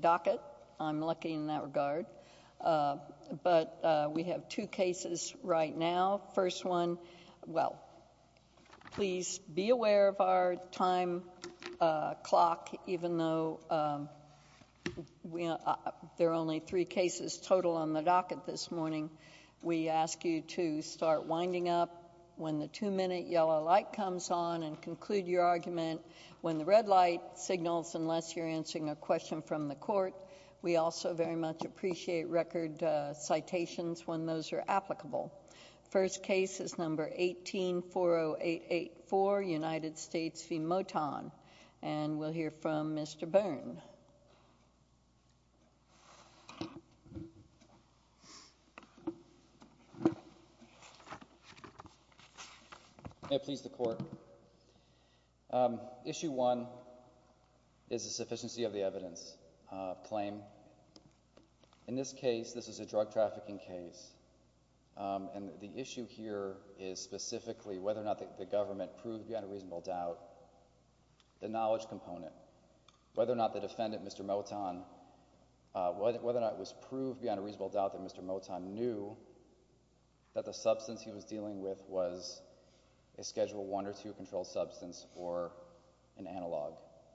docket I'm lucky in that regard but we have two cases right now first one well please be aware of our time clock even though we there are only three cases total on the docket this morning we ask you to start winding up when the two minute yellow light comes on and conclude your argument when the red light signals unless you're answering a question from the court we also very much appreciate record citations when those are applicable first case is number 1840884 United States v. Moton and we'll hear from Mr. Byrne please the court issue one is a sufficiency of the evidence claim in this case this is a drug trafficking case and the issue here is specifically whether or not the government proved you had a reasonable doubt the knowledge component whether or not the defendant Mr. Moton whether or not it was proved beyond a reasonable doubt that Mr. Moton knew that the substance he was dealing with was a schedule one or two controlled substance or an analog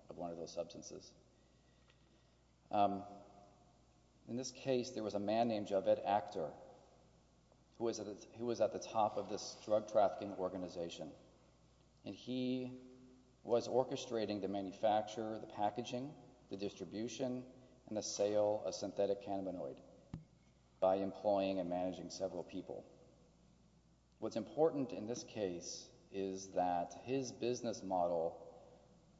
of one of those substances in this case there was a man named Javed Akter who was at the top of this drug trafficking organization and he was orchestrating the manufacture the packaging the distribution and the sale of synthetic cannabinoid by employing and managing several people what's important in this case is that his business model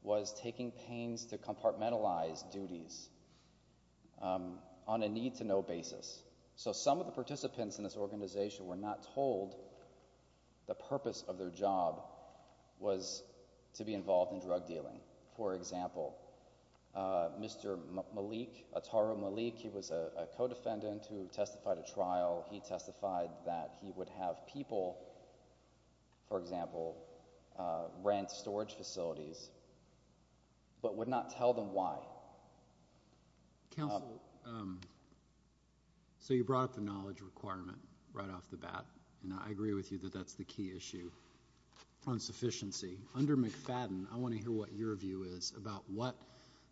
was taking pains to compartmentalize duties on a need-to-know basis so some of the participants in this organization were not told the purpose of their job was to be involved in drug dealing for example Mr. Malik Ataru Malik he was a co-defendant who testified a trial he testified that he would have people for example rent storage facilities but would not tell them why so you brought up the knowledge requirement right off the bat and I agree with you that that's the key issue on sufficiency under McFadden I want to hear what your view is about what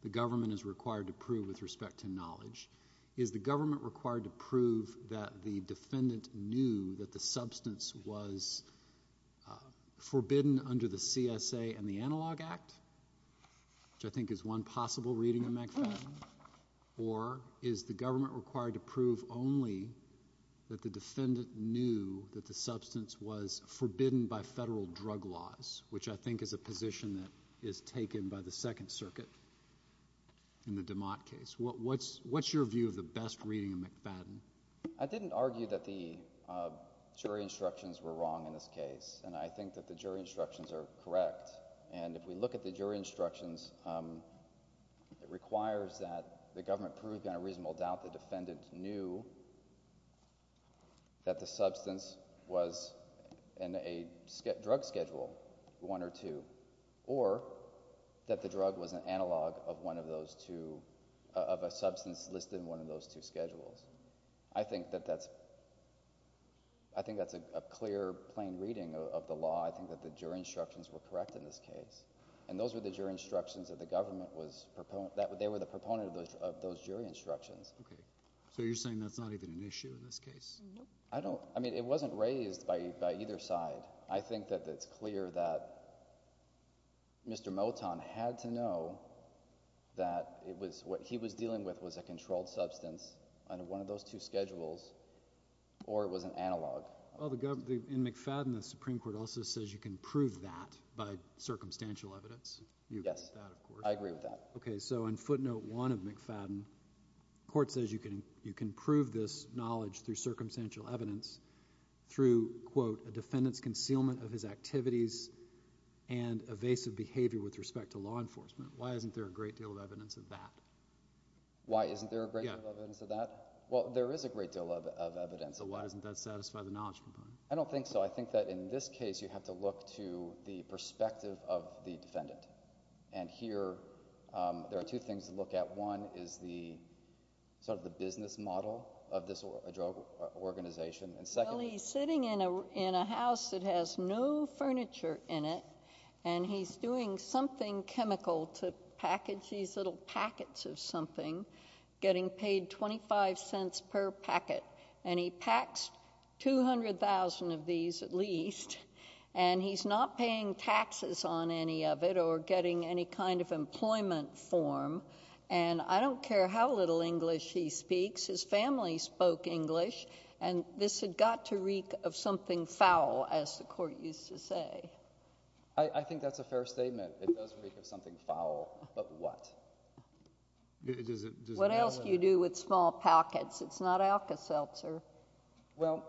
the government is required to prove with respect to knowledge is the government required to prove that the defendant knew that the substance was forbidden under the CSA and the Analog Act which I think is one possible reading of McFadden or is the substance was forbidden by federal drug laws which I think is a position that is taken by the Second Circuit in the DeMott case what what's what's your view of the best reading of McFadden I didn't argue that the jury instructions were wrong in this case and I think that the jury instructions are correct and if we look at the jury instructions it requires that the government proved on a defendant knew that the substance was in a drug schedule one or two or that the drug was an analog of one of those two of a substance listed in one of those two schedules I think that that's I think that's a clear plain reading of the law I think that the jury instructions were correct in this case and those were the jury instructions that the government was proponent that so you're saying that's not even an issue in this case I don't I mean it wasn't raised by either side I think that it's clear that Mr. Moton had to know that it was what he was dealing with was a controlled substance and one of those two schedules or it was an analog well the government in McFadden the Supreme Court also says you can prove that by circumstantial evidence yes I agree with that okay so in footnote one of McFadden court says you can you can prove this knowledge through circumstantial evidence through quote a defendant's concealment of his activities and evasive behavior with respect to law enforcement why isn't there a great deal of evidence of that why isn't there a great deal of evidence of that well there is a great deal of evidence so why doesn't that satisfy the knowledge component I don't think so I think that in this case you have to look to the perspective of the defendant and here there are two things to look at one is the sort of the business model of this drug organization and secondly sitting in a in a house that has no furniture in it and he's doing something chemical to package these little packets of something getting paid 25 cents per packet and he packs 200,000 of these at and he's not paying taxes on any of it or getting any kind of employment form and I don't care how little English he speaks his family spoke English and this had got to reek of something foul as the court used to say I think that's a fair statement it does reek of something foul but what what else do you do with small pockets it's not Alka-Seltzer well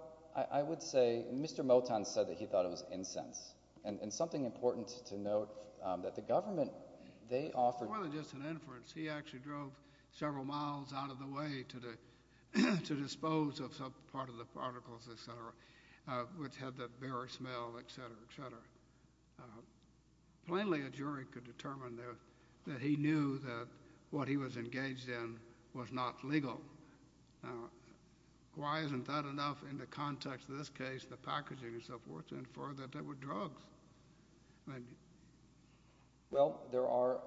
I would say mr. Moton said that he thought it was incense and and something important to note that the government they offered just an inference he actually drove several miles out of the way to do to dispose of some part of the particles etc which had the very smell etc etc plainly a jury could determine there that he knew that what he was engaged in was not legal why isn't that enough in the context of this case the packaging and so forth and further that there were drugs well there are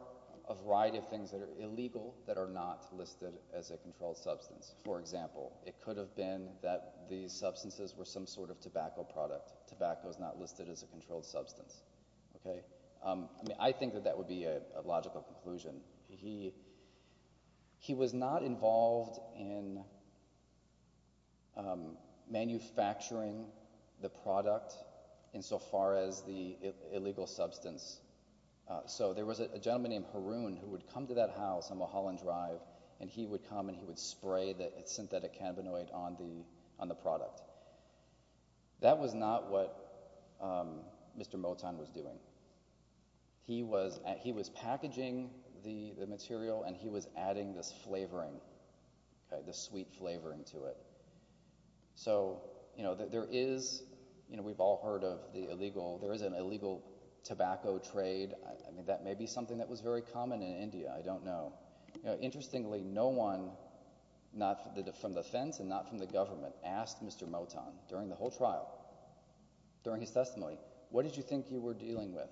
a variety of things that are illegal that are not listed as a controlled substance for example it could have been that these substances were some sort of tobacco product tobacco is not listed as a controlled substance okay I mean I think that that would be a logical conclusion he he was not involved in manufacturing the product insofar as the illegal substance so there was a gentleman named Haroon who would come to that house on Mulholland Drive and he would come and he would spray that it's synthetic cannabinoid on the on the product that was not what mr. Moton was doing he was at he was packaging the it so you know that there is you know we've all heard of the illegal there is an illegal tobacco trade I mean that may be something that was very common in India I don't know you know interestingly no one not from the fence and not from the government asked mr. Moton during the whole trial during his testimony what did you think you were dealing with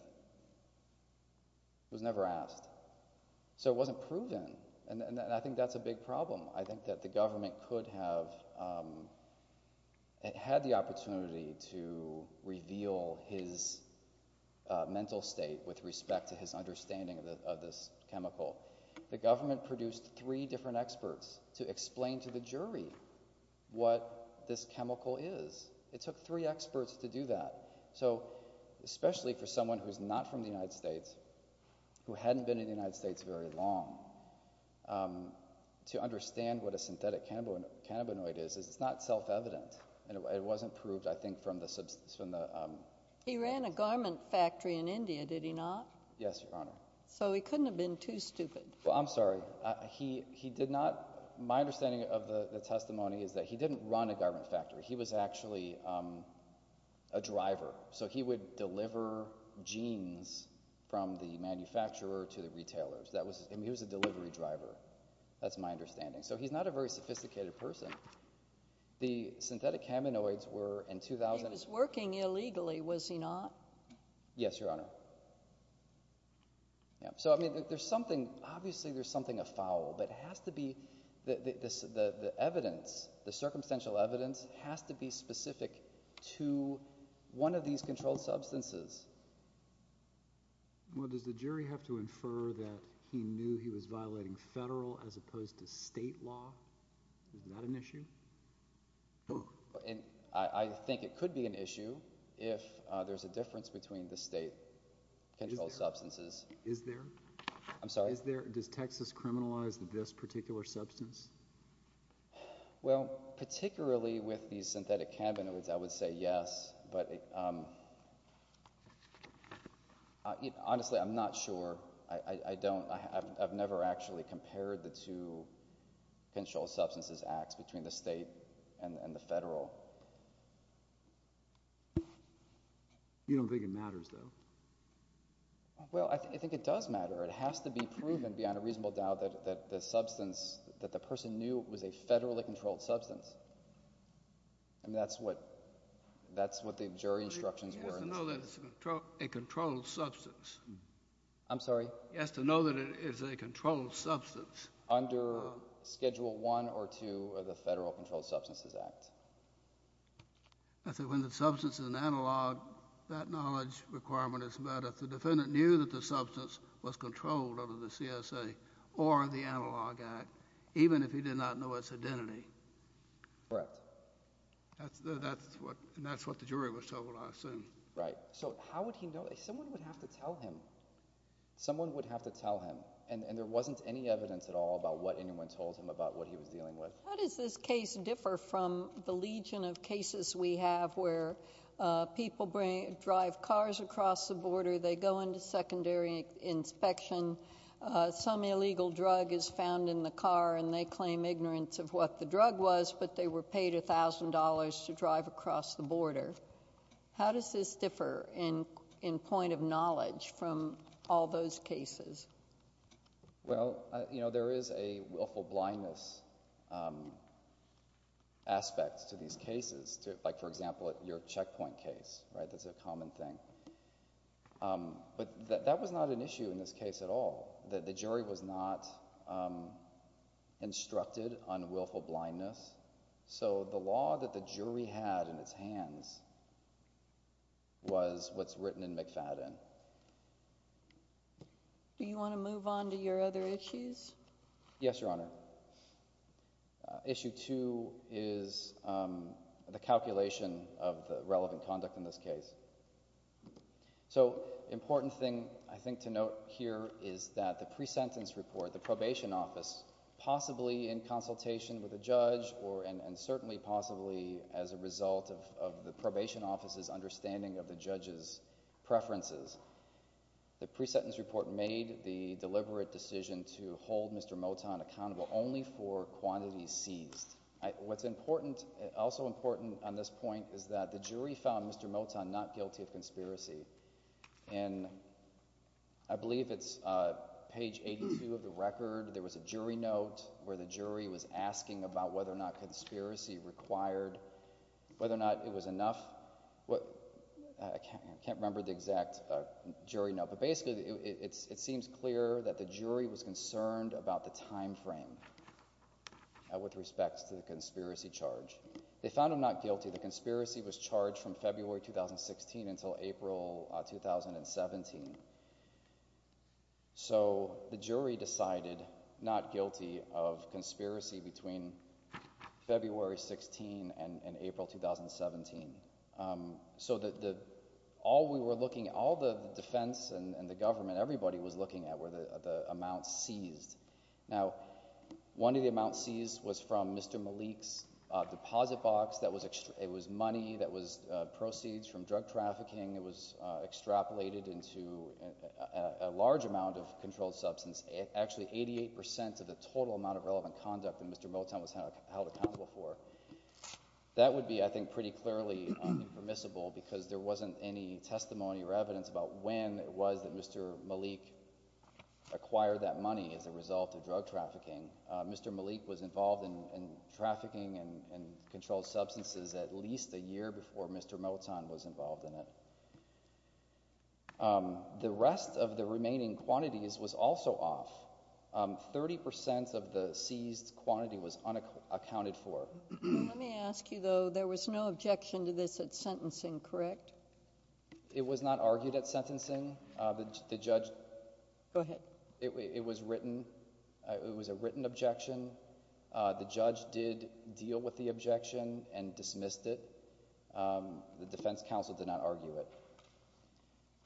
was never asked so it wasn't proven and I think that's a big problem I think that the government could have had the opportunity to reveal his mental state with respect to his understanding of this chemical the government produced three different experts to explain to the jury what this chemical is it took three experts to do that so especially for someone who's not from the United States who hadn't been in the United States very long to understand what a synthetic cannabinoid is it's not self-evident and it wasn't proved I think from the substance from the he ran a garment factory in India did he not yes your honor so he couldn't have been too stupid well I'm sorry he he did not my understanding of the testimony is that he didn't run a garment factory he was actually a driver so he would deliver jeans from the manufacturer to the retailers that was him he was a delivery driver that's my understanding so he's not a very sophisticated person the synthetic cannabinoids were in 2000 is working illegally was he not yes your honor yeah so I mean there's something obviously there's something afoul but has to be the evidence the these controlled substances well does the jury have to infer that he knew he was violating federal as opposed to state law is that an issue oh and I think it could be an issue if there's a difference between the state and all substances is there I'm sorry is there does Texas criminalize that this particular substance well particularly with these synthetic cannabinoids I honestly I'm not sure I don't I've never actually compared the to control substances acts between the state and the federal you don't think it matters though well I think I think it does matter it has to be proven beyond a reasonable doubt that the substance that the person knew was a federally controlled substance and that's what that's what the jury instructions were no that's a controlled substance I'm sorry yes to know that it is a controlled substance under schedule one or two of the Federal Controlled Substances Act I think when the substance is an analog that knowledge requirement is met if the defendant knew that the substance was controlled under the CSA or the analog act even if he did not know its identity correct that's that's what and that's what the jury was told I assume right so how would he know someone would have to tell him someone would have to tell him and and there wasn't any evidence at all about what anyone told him about what he was dealing with how does this case differ from the legion of cases we have where people bring drive cars across the border they go into secondary inspection some illegal drug is found in the car and they claim ignorance of what the drug was but they were paid a thousand dollars to drive across the border how does this differ in in point of knowledge from all those cases well you know there is a willful blindness aspects to these cases to like for example at your checkpoint case right that's a common thing but that was not an issue in this case at all that the jury was not instructed on willful blindness so the law that the jury had in its hands was what's written in McFadden do you want to move on to your other issues yes your honor issue two is the calculation of the relevant conduct in this case so important thing I think to note here is that the pre-sentence report the probation office possibly in consultation with a judge or and certainly possibly as a result of the probation offices understanding of the judges preferences the pre-sentence report made the deliberate decision to hold mr. Moton accountable only for quantity seized what's important also important on this point is that the jury found mr. Moton not guilty of conspiracy and I believe it's page 82 of the record there was a jury note where the jury was asking about whether or not conspiracy required whether or not it was enough what I can't remember the exact jury note but basically it's it seems clear that the jury was concerned about the time frame with respects to the conspiracy charge they found him not guilty of conspiracy between February 16 and April 2017 so that all we were looking at all the defense and the government everybody was looking at where the amount seized now one of the amount seized was from mr. Malik's proceeds from drug trafficking it was extrapolated into a large amount of controlled substance actually eighty-eight percent of the total amount of relevant conduct and mr. Moton was held accountable for that would be I think pretty clearly permissible because there wasn't any testimony or evidence about when it was that mr. Malik acquired that money as a result of drug trafficking mr. Malik was involved in trafficking and controlled substances at least a year before mr. Moton was involved in it the rest of the remaining quantities was also off thirty percent of the seized quantity was unaccounted for let me ask you though there was no objection to this at sentencing correct it was not argued at sentencing the judge go ahead it was written it was a defense counsel did not argue it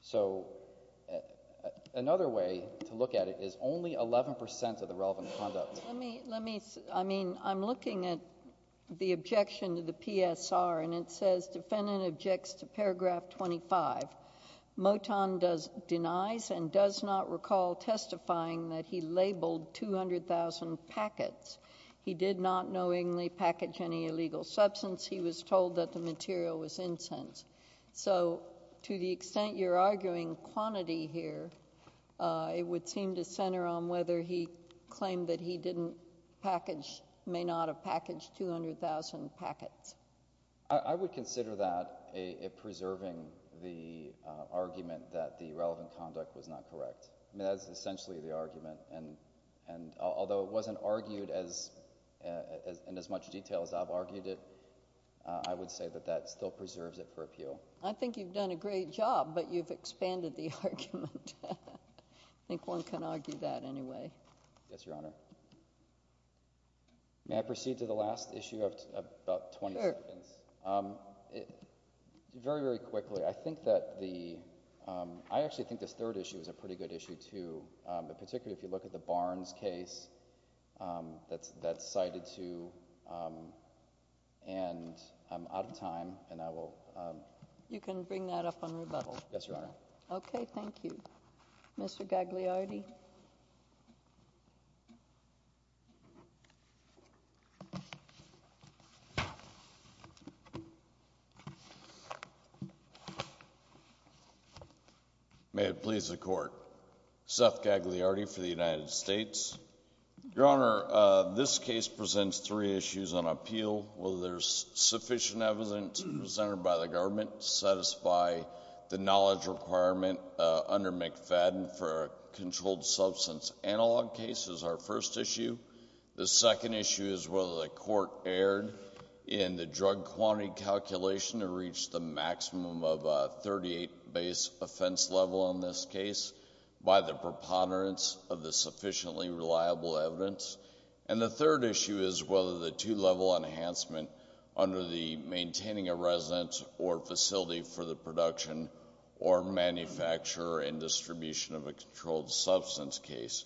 so another way to look at it is only 11% of the relevant conduct I mean I'm looking at the objection to the PSR and it says defendant objects to paragraph 25 Moton does denies and does not recall testifying that he labeled 200,000 packets he did not knowingly package any legal substance he was told that the material was incense so to the extent you're arguing quantity here it would seem to center on whether he claimed that he didn't package may not a package 200,000 packets I would consider that a preserving the argument that the relevant conduct was not correct essentially the argument and and although it wasn't argued as as in as much detail as I've argued it I would say that that still preserves it for appeal I think you've done a great job but you've expanded the argument I think one can argue that anyway yes your honor may I proceed to the last issue of about 20 seconds very very quickly I think that the I actually think this third issue is a pretty good issue too in particular if you look at the Barnes case that's that's cited to and I'm out of time and I will you can bring that up on rebuttal yes your honor okay thank you mr. gagliardi may it please the court Seth gagliardi for the United States your honor this case presents three issues on appeal well there's sufficient evidence presented by the government satisfy the knowledge requirement under McFadden for a controlled substance analog cases our first issue the second issue is whether the court erred in the drug quantity calculation to reach the maximum of 38 base offense level on this case by the preponderance of the sufficiently reliable evidence and the third issue is whether the two-level enhancement under the maintaining a residence or facility for the production or manufacturer and controlled substance case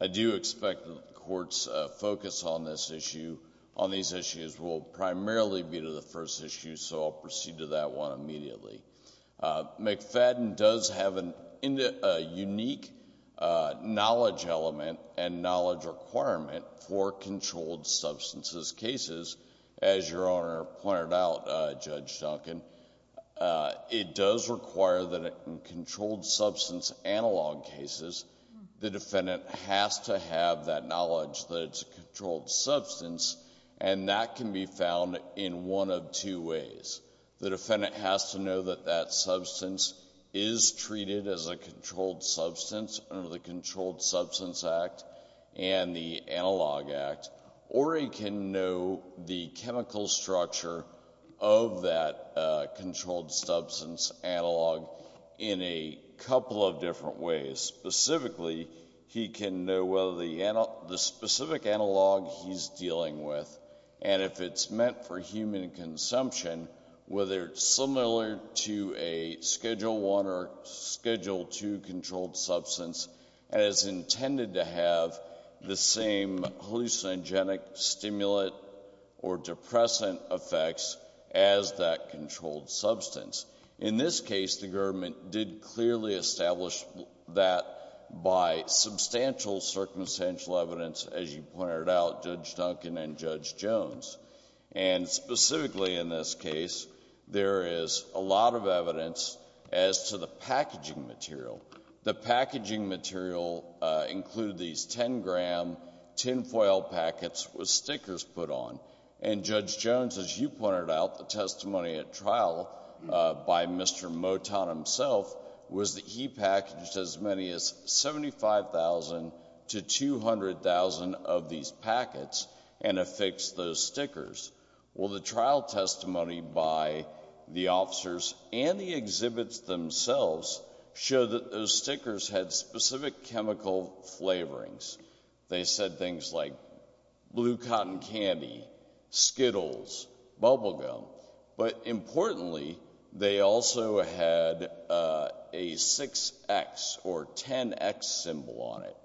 I do expect the court's focus on this issue on these issues will primarily be to the first issue so I'll proceed to that one immediately McFadden does have an indeed a unique knowledge element and knowledge requirement for controlled substances cases as your honor pointed out judge Duncan it does require that controlled substance analog cases the defendant has to have that knowledge that it's a controlled substance and that can be found in one of two ways the defendant has to know that that substance is treated as a controlled substance under the Controlled Substance Act and the controlled substance analog in a couple of different ways specifically he can know whether the specific analog he's dealing with and if it's meant for human consumption whether it's similar to a schedule 1 or schedule 2 controlled substance as intended to have the same hallucinogenic stimulant or depressant effects as that controlled substance in this case the government did clearly established that by substantial circumstantial evidence as you pointed out judge Duncan and judge Jones and specifically in this case there is a lot of evidence as to the packaging material the packaging material include these 10 as you pointed out the testimony at trial by Mr. Moton himself was that he packaged as many as 75,000 to 200,000 of these packets and affixed those stickers well the trial testimony by the officers and the exhibits themselves show that those stickers had specific chemical flavorings they said things like blue cotton candy skittles bubblegum but importantly they also had a 6x or 10x symbol on it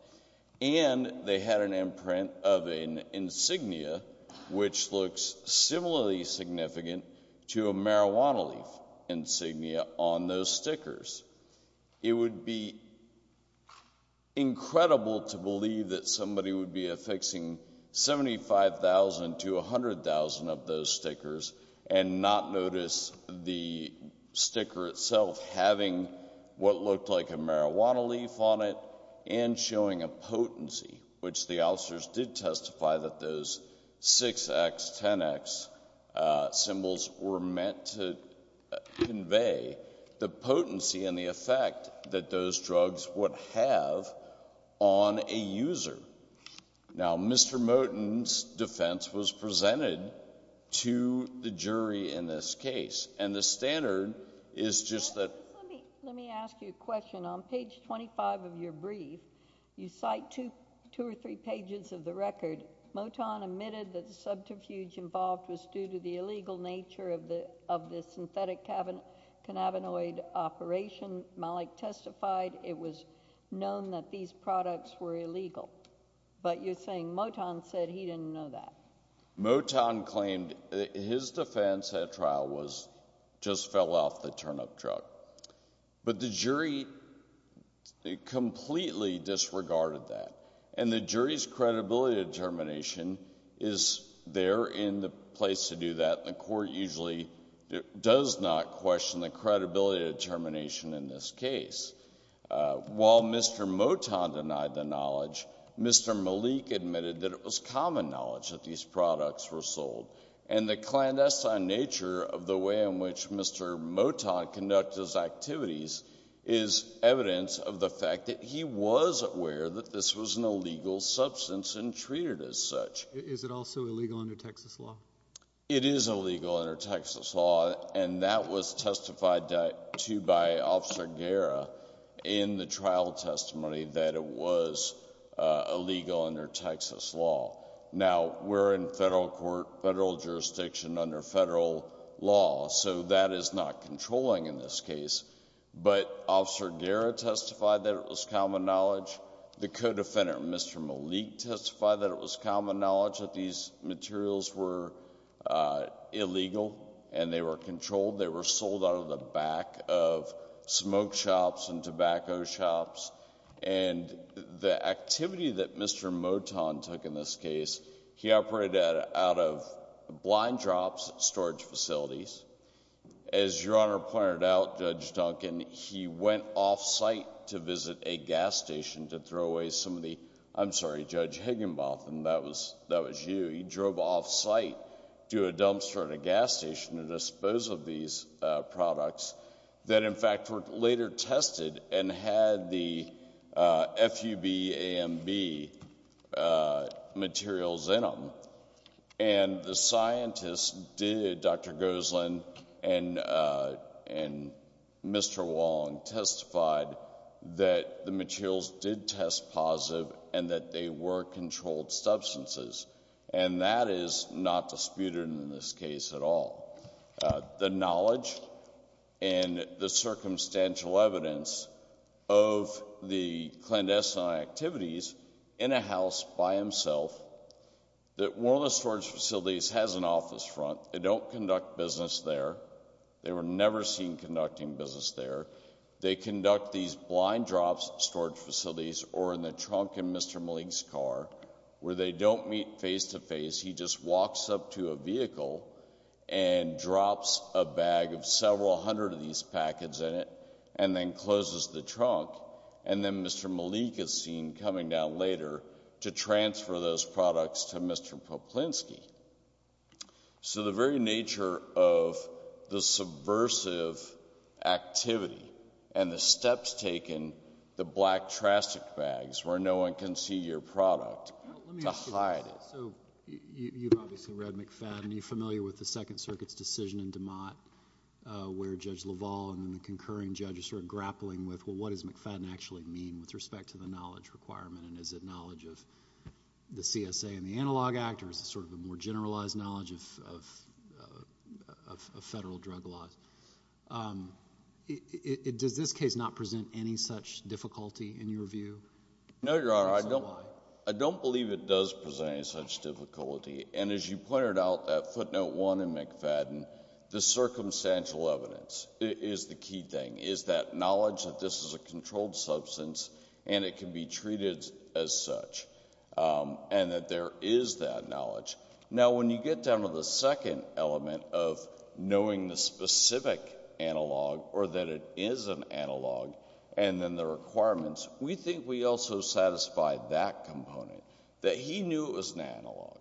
and they had an imprint of an insignia which looks similarly significant to a marijuana leaf insignia on those stickers it would be incredible to believe that somebody would be affixing 75,000 to 100,000 of those stickers and not notice the sticker itself having what looked like a marijuana leaf on it and showing a potency which the officers did testify that those 6x 10x symbols were meant to convey the potency and the effect that those drugs would have on a user now Mr. Moton's defense was presented to the jury in this case and the standard is just that let me ask you a question on page 25 of your brief you cite to two or three pages of the record Moton admitted that the subterfuge involved was due to the illegal nature of the of the synthetic cannabinoid operation. Malik testified it was known that these products were illegal but you're saying Moton said he didn't know that. Moton claimed his defense at trial was just fell off the turnip truck but the jury completely disregarded that and the jury's credibility determination is there in the place to do that the court usually does not question the credibility determination in this case. While Mr. Moton denied the knowledge Mr. Malik admitted that it was common knowledge that these products were sold and the clandestine nature of the way in which Mr. Moton conducted his activities is evidence of the fact that he was aware that this was an illegal substance and treated as such. Is it also illegal under Texas law? It is illegal under Texas law and that was testified to by Officer Guerra in the trial testimony that it was illegal under Texas law. Now we're in federal court federal jurisdiction under federal law so that is not controlling in this case but Officer Guerra testified that it was common knowledge the co-defendant Mr. Malik testified that it was common knowledge that these materials were illegal and they were controlled they were sold out of the back of smoke shops and tobacco shops and the activity that Mr. Moton took in this case he operated out of blind drops storage facilities. As your honor pointed out Judge Duncan he went off-site to visit a gas station to throw away some of the I'm sorry Judge Higginbotham that was that was you he drove off-site to a dumpster at a gas station to dispose of these products that in fact were later tested and had the FUB-AMB materials in them and the scientists did Dr. Goselin and and Mr. Wong testified that the materials did test positive and that they were controlled substances and that is not disputed in this case at all. The knowledge and the circumstantial evidence of the clandestine activities in a house by himself that one of the storage facilities has an office front they don't conduct business there they were never seen conducting business there they conduct these blind drops storage facilities or in the trunk in Mr. Malik's car where they don't meet face-to-face he just walks up to a vehicle and drops a bag of several hundred of these packets in it and then closes the trunk and then Mr. Malik is seen coming down later to transfer those activity and the steps taken the black traffic bags where no one can see your product to hide it. So you've obviously read McFadden and you're familiar with the Second Circuit's decision in DeMott where Judge LaValle and the concurring judges are grappling with well what does McFadden actually mean with respect to the knowledge requirement and is it knowledge of the CSA and the Analog Act or is it sort of a more generalized knowledge of federal drug laws. Does this case not present any such difficulty in your view? No, Your Honor. I don't believe it does present any such difficulty and as you pointed out at footnote one in McFadden the circumstantial evidence is the key thing is that knowledge that this is a controlled substance and it can be acknowledged. Now when you get down to the second element of knowing the specific analog or that it is an analog and then the requirements we think we also satisfied that component that he knew it was an analog.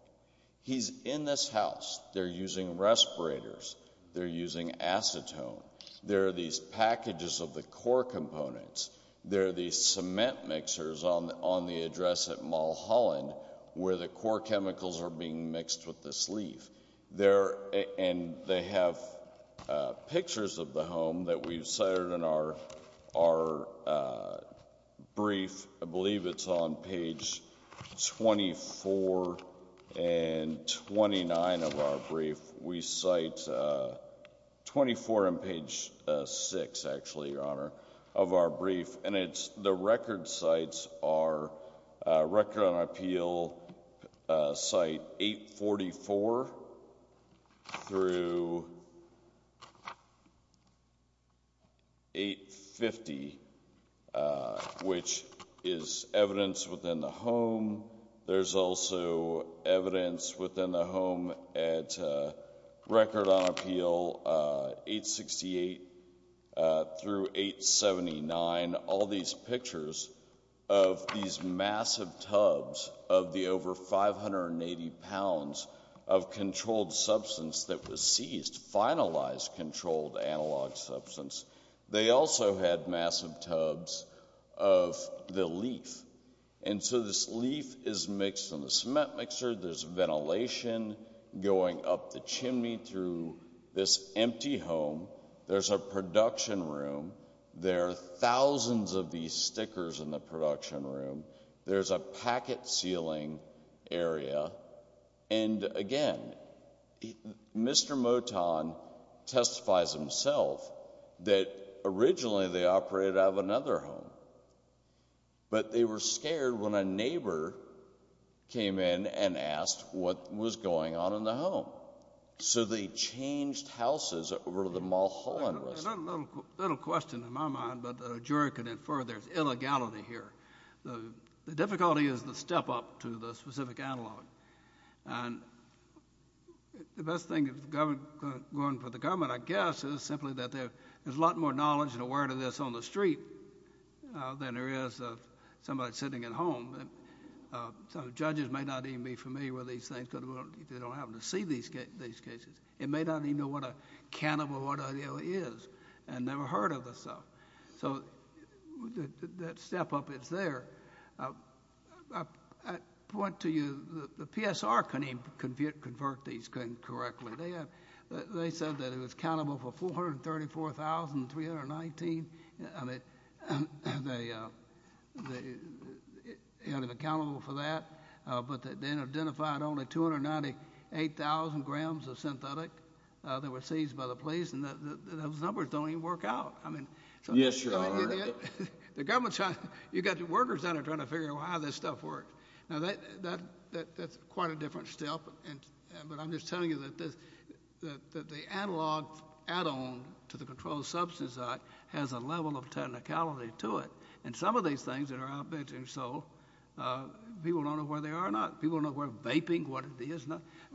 He's in this house they're using respirators, they're using acetone, there are these packages of the core components, there are these cement mixers on the on the address at Mulholland where the core chemicals are being mixed with this leaf. They're and they have pictures of the home that we've cited in our brief. I believe it's on page 24 and 29 of our brief. We cite 24 and page 6 actually, Your Honor, of our sites are Record on Appeal site 844 through 850 which is evidence within the home. There's also evidence within the home at Record on Appeal 868 through 879. All these pictures of these massive tubs of the over 580 pounds of controlled substance that was seized, finalized controlled analog substance. They also had massive tubs of the leaf and so this leaf is mixed on the cement mixer, there's ventilation going up the chimney through this empty home, there's a thousands of these stickers in the production room, there's a packet sealing area and again, Mr. Moton testifies himself that originally they operated out of another home but they were scared when a neighbor came in and asked what was going on in the home. So they changed houses over the Mulholland. A little question in my mind but a juror could infer there's illegality here. The difficulty is the step up to the specific analog and the best thing going for the government I guess is simply that there's a lot more knowledge and awareness on the street than there is of somebody sitting at home. So judges may not even be familiar with these things because they don't happen to see these cases. They may not even know what a cannibal is and never heard of the stuff. So that step up is there. I point to you, the PSR couldn't even convert these things correctly. They said that it was accountable for 434,319 and they had him accountable for that but then identified only 298,000 grams of synthetic that were seized by the police and those numbers don't even work out. Yes, your honor. The government, you've got the workers down there trying to figure out how this stuff works. Now that's quite a different step but I'm just telling you that the analog add-on to the Controlled Substance Act has a level of technicality to it and some of these things that are out there in Seoul, people don't know where they are or not. People don't know what vaping, what it is,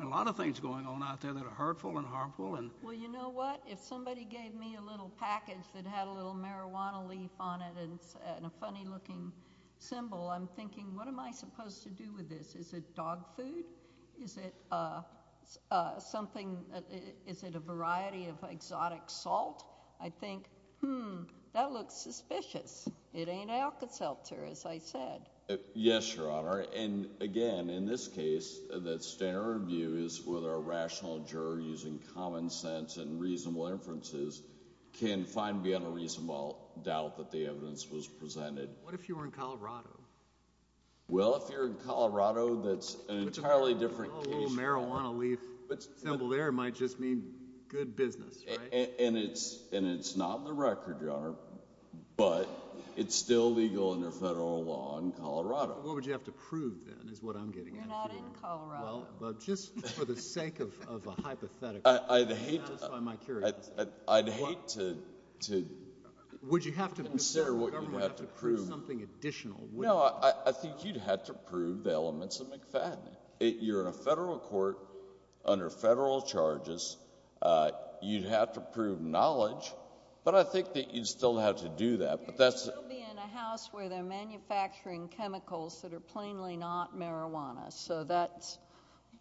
a lot of things going on out there that are hurtful and harmful. Well you know what, if somebody gave me a little package that had a little marijuana leaf on it and a funny looking symbol, I'm thinking what am I supposed to do with this? Is it dog food? Is it something, is it a variety of exotic salt? I think, hmm, that looks suspicious. It ain't Alka-Seltzer as I said. Yes, your honor and again in this case that standard review is whether a rational juror using common sense and reasonable inferences can find beyond a reasonable doubt that the evidence was presented. What if you were in Colorado? Well if you're in Colorado that's an entirely different case. Marijuana leaf symbol there might just mean good business, right? And it's not in the record, your honor, but it's still legal under federal law in Colorado. What would you have to prove then is what I'm getting at here. We're not in Colorado. Well just for the sake of a hypothetical, just out of my curiosity, would you have to prove something additional? No, I think you'd have to prove the elements of McFadden. You're in a federal court under federal charges. You'd have to prove knowledge, but I think that you'd still have to do that. You'd still be in a house where they're manufacturing chemicals that are plainly not marijuana. So that's...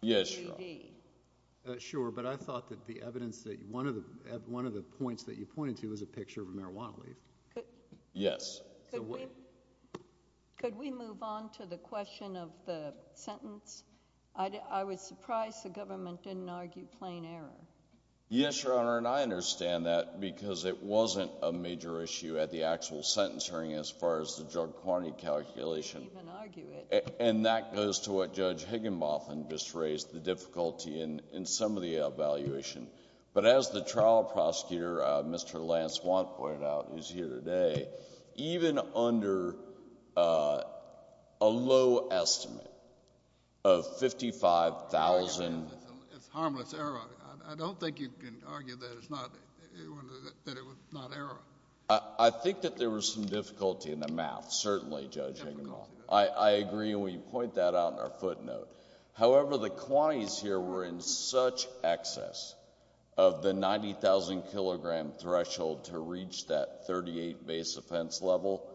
Yes, your honor. Sure, but I thought that the evidence that one of the points that you pointed to was a picture of a marijuana leaf. Yes. Could we move on to the question of the sentence? I was surprised the government didn't argue plain error. Yes, your honor, and I understand that because it wasn't a major issue at the actual sentence hearing as far as the drug quantity calculation. They didn't even argue it. And that goes to what Judge Higginbotham just raised, the difficulty in some of the evaluation. But as the trial prosecutor, Mr. Lance Watt, pointed out, who's here today, even under a low estimate of 55,000... It's harmless error. I don't think you can argue that it was not error. I think that there was some difficulty in the math, certainly, Judge Higginbotham. I agree when you point that out in our footnote. However, the quantities here were in such excess of the 90,000 kilogram threshold to reach that 38 base offense level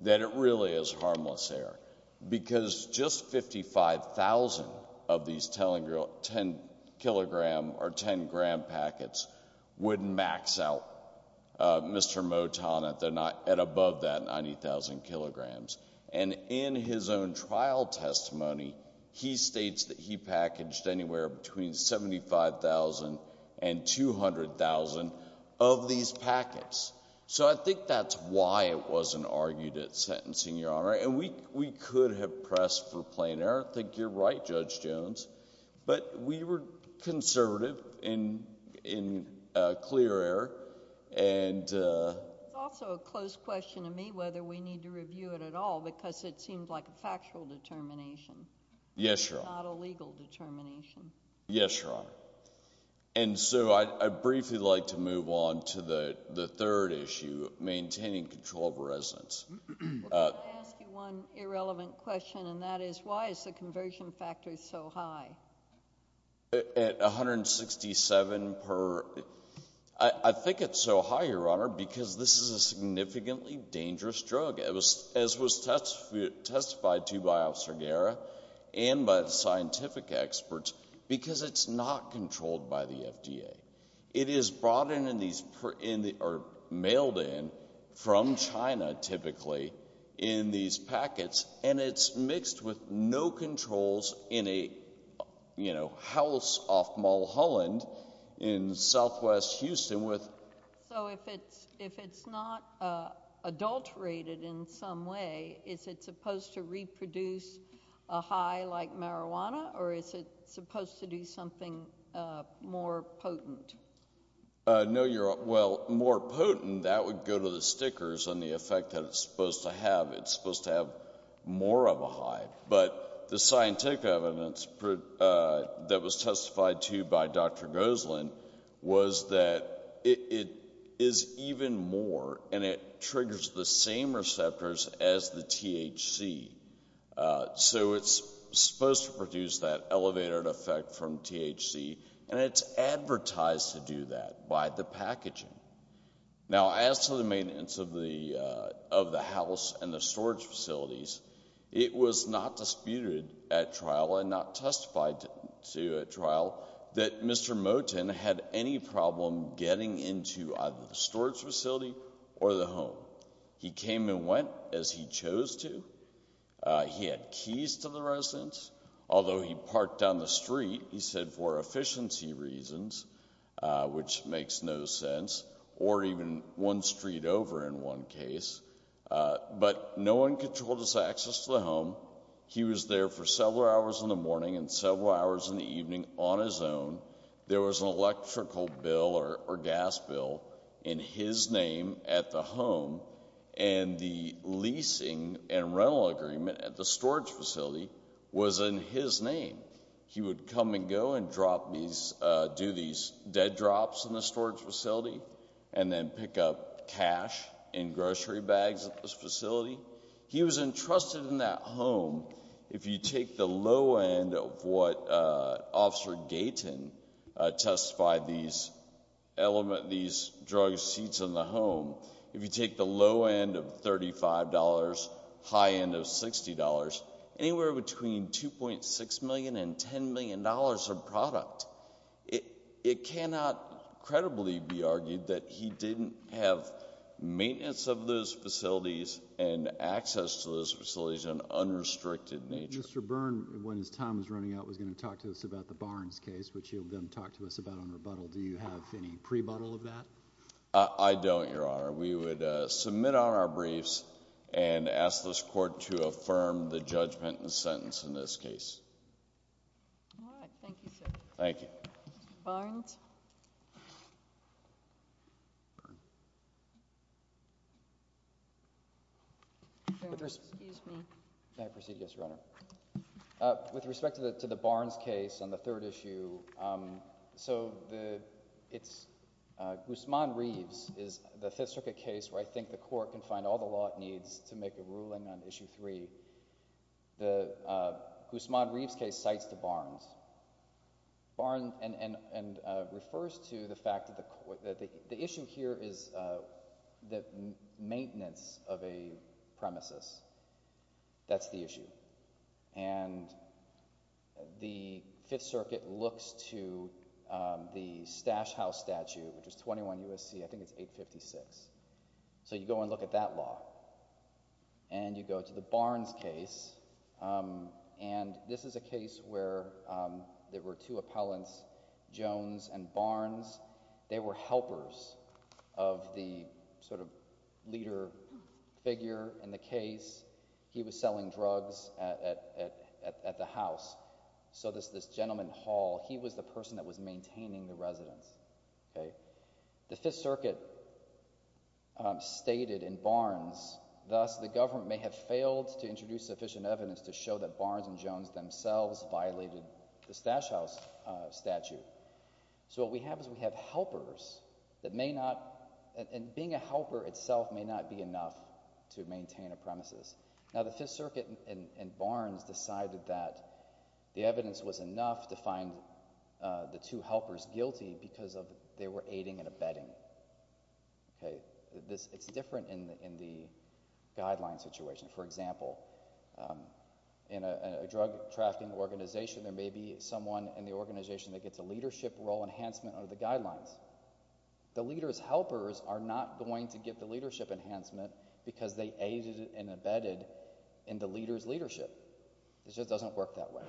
that it really is harmless error. Because just 55,000 of these 10 kilogram or 10 gram packets would max out Mr. Moton at above that 90,000 kilograms. And in his own trial testimony, he states that he packaged anywhere between 75,000 and 200,000 of these packets. So I think that's why it wasn't argued at sentencing, your honor. And we could have pressed for plain error. I think you're right, Judge Jones. But we were conservative in clear error. It's also a close question to me whether we need to review it at all, because it seemed like a factual determination. Yes, your honor. Not a legal determination. Yes, your honor. And so I'd briefly like to move on to the third issue, maintaining control of residence. We're going to ask you one irrelevant question, and that is, why is the conversion factor so high? At 167 per, I think it's so high, your honor, because this is a significantly dangerous drug, as was testified to by Officer Guerra and by the scientific experts, because it's not controlled by the FDA. It is brought in or mailed in from China, typically, in these packets. And it's mixed with no controls in a, you know, house off Mulholland in southwest Houston with — So if it's not adulterated in some way, is it supposed to reproduce a high like marijuana, or is it supposed to do something more potent? No, your — well, more potent, that would go to the stickers and the effect that it's supposed to have. It's supposed to have more of a high. But the scientific evidence that was testified to by Dr. Goselin was that it is even more, and it triggers the same receptors as the THC. So it's supposed to produce that elevated effect from THC, and it's advertised to do that by the packaging. Now, as to the maintenance of the house and the storage facilities, it was not disputed at trial and not testified to at trial that Mr. Moten had any problem getting into either the storage facility or the home. He came and went as he chose to. He had keys to the residence, although he parked down the street, he said, for efficiency reasons, which makes no sense, or even one street over in one case. But no one controlled his access to the home. He was there for several hours in the morning and several hours in the evening on his own. There was an electrical bill or gas bill in his name at the home, and the leasing and rental agreement at the storage facility was in his name. He would come and go and do these dead drops in the storage facility and then pick up cash in grocery bags at the facility. He was entrusted in that home. If you take the low end of what Officer Gayton testified these drug seats in the home, if we're talking about anywhere between $2.6 million and $10 million of product, it cannot credibly be argued that he didn't have maintenance of those facilities and access to those facilities in an unrestricted nature. Mr. Byrne, when his time was running out, was going to talk to us about the Barnes case, which he then talked to us about on rebuttal. Do you have any pre-buttle of that? I don't, Your Honor. We would submit on our briefs and ask this Court to affirm the judgment and sentence in this case. All right. Thank you, sir. Thank you. Mr. Barnes? Excuse me. May I proceed, Yes, Your Honor? With respect to the Barnes case on the third issue, so it's Guzman Reeves is the fifth circuit case where I think the Court can find all the law it needs to make a ruling on issue three. The Guzman Reeves case cites the Barnes and refers to the fact that the issue here is the maintenance of a premises. That's the issue. And the Fifth Circuit looks to the Stash House statute, which is 21 U.S.C. I think it's 856. So you go and look at that law. And you go to the Barnes case. And this is a case where there were two appellants, Jones and Barnes. They were helpers of the sort of leader figure in the case. He was selling drugs at the house. So this gentleman Hall, he was the person that was maintaining the residence, okay? The Fifth Circuit stated in Barnes, thus the government may have failed to introduce sufficient evidence to show that Barnes and Jones themselves violated the Stash House statute. So what we have is we have helpers that may not, and being a helper itself may not be enough to maintain a premises. Now, the Fifth Circuit and Barnes decided that the evidence was enough to find the two appellants, Jones and Barnes, for aiding and abetting, okay? It's different in the guideline situation. For example, in a drug-trafficking organization, there may be someone in the organization that gets a leadership role enhancement under the guidelines. The leader's helpers are not going to get the leadership enhancement because they aided and abetted in the leader's leadership. It just doesn't work that way.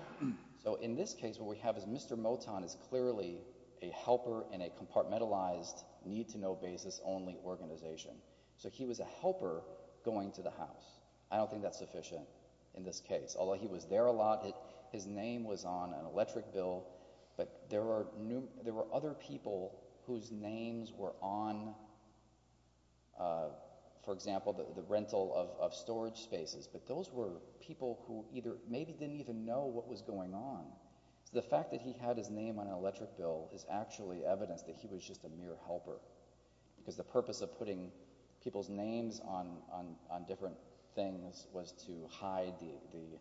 So in this case, what we have is Mr. Moton is clearly a helper in a compartmentalized, need-to-know basis only organization. So he was a helper going to the house. I don't think that's sufficient in this case. Although he was there a lot, his name was on an electric bill, but there were other people whose names were on, for example, the rental of storage spaces. But those were people who either maybe didn't even know what was going on. The fact that he had his name on an electric bill is actually evidence that he was just a mere helper because the purpose of putting people's names on different things was to hide the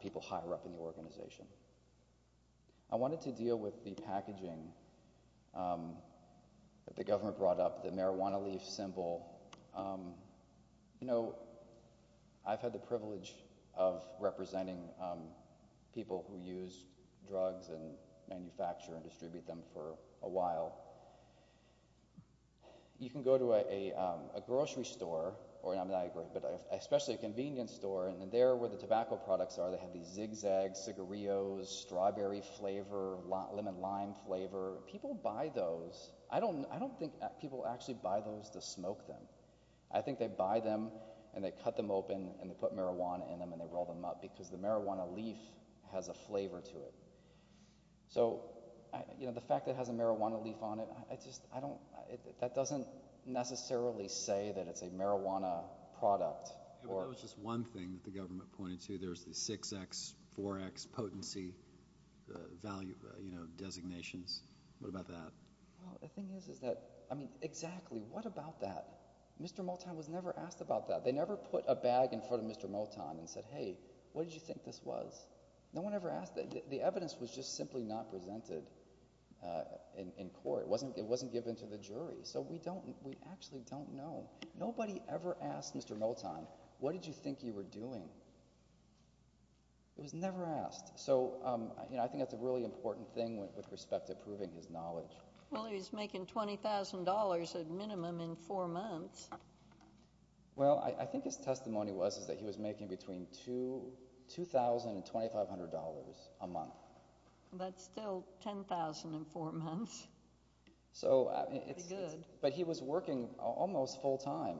people higher up in the organization. I wanted to deal with the packaging that the government brought up, the marijuana leaf symbol. You know, I've had the privilege of representing people who use drugs and manufacture and distribute them for a while. You can go to a grocery store, especially a convenience store, and there where the tobacco products are, they have these zigzags, cigarillos, strawberry flavor, lemon-lime flavor. People buy those. I don't think people actually buy those to smoke them. I think they buy them, and they cut them open, and they put marijuana in them, and they roll them up because the marijuana leaf has a flavor to it. So the fact that it has a marijuana leaf on it, that doesn't necessarily say that it's a marijuana product. Yeah, but that was just one thing that the government pointed to. There's the 6X, 4X potency value designations. What about that? Well, the thing is, is that, I mean, exactly, what about that? Mr. Moton was never asked about that. They never put a bag in front of Mr. Moton and said, hey, what did you think this was? No one ever asked. The evidence was just simply not presented in court. It wasn't given to the jury. So we actually don't know. Nobody ever asked Mr. Moton, what did you think you were doing? It was never asked. So I think that's a really important thing with respect to proving his knowledge. He was making $20,000 at minimum in four months. Well, I think his testimony was that he was making between $2,000 and $2,500 a month. That's still $10,000 in four months. But he was working almost full time.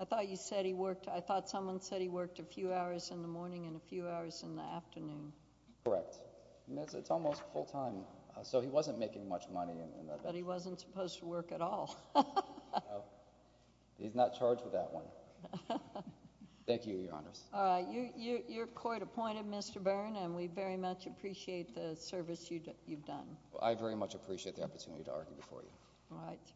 I thought you said he worked, I thought someone said he worked a few hours in the morning and a few hours in the afternoon. Correct. It's almost full time. So he wasn't making much money. But he wasn't supposed to work at all. He's not charged with that one. Thank you, Your Honors. All right. You're court appointed, Mr. Byrne, and we very much appreciate the service you've done. All right.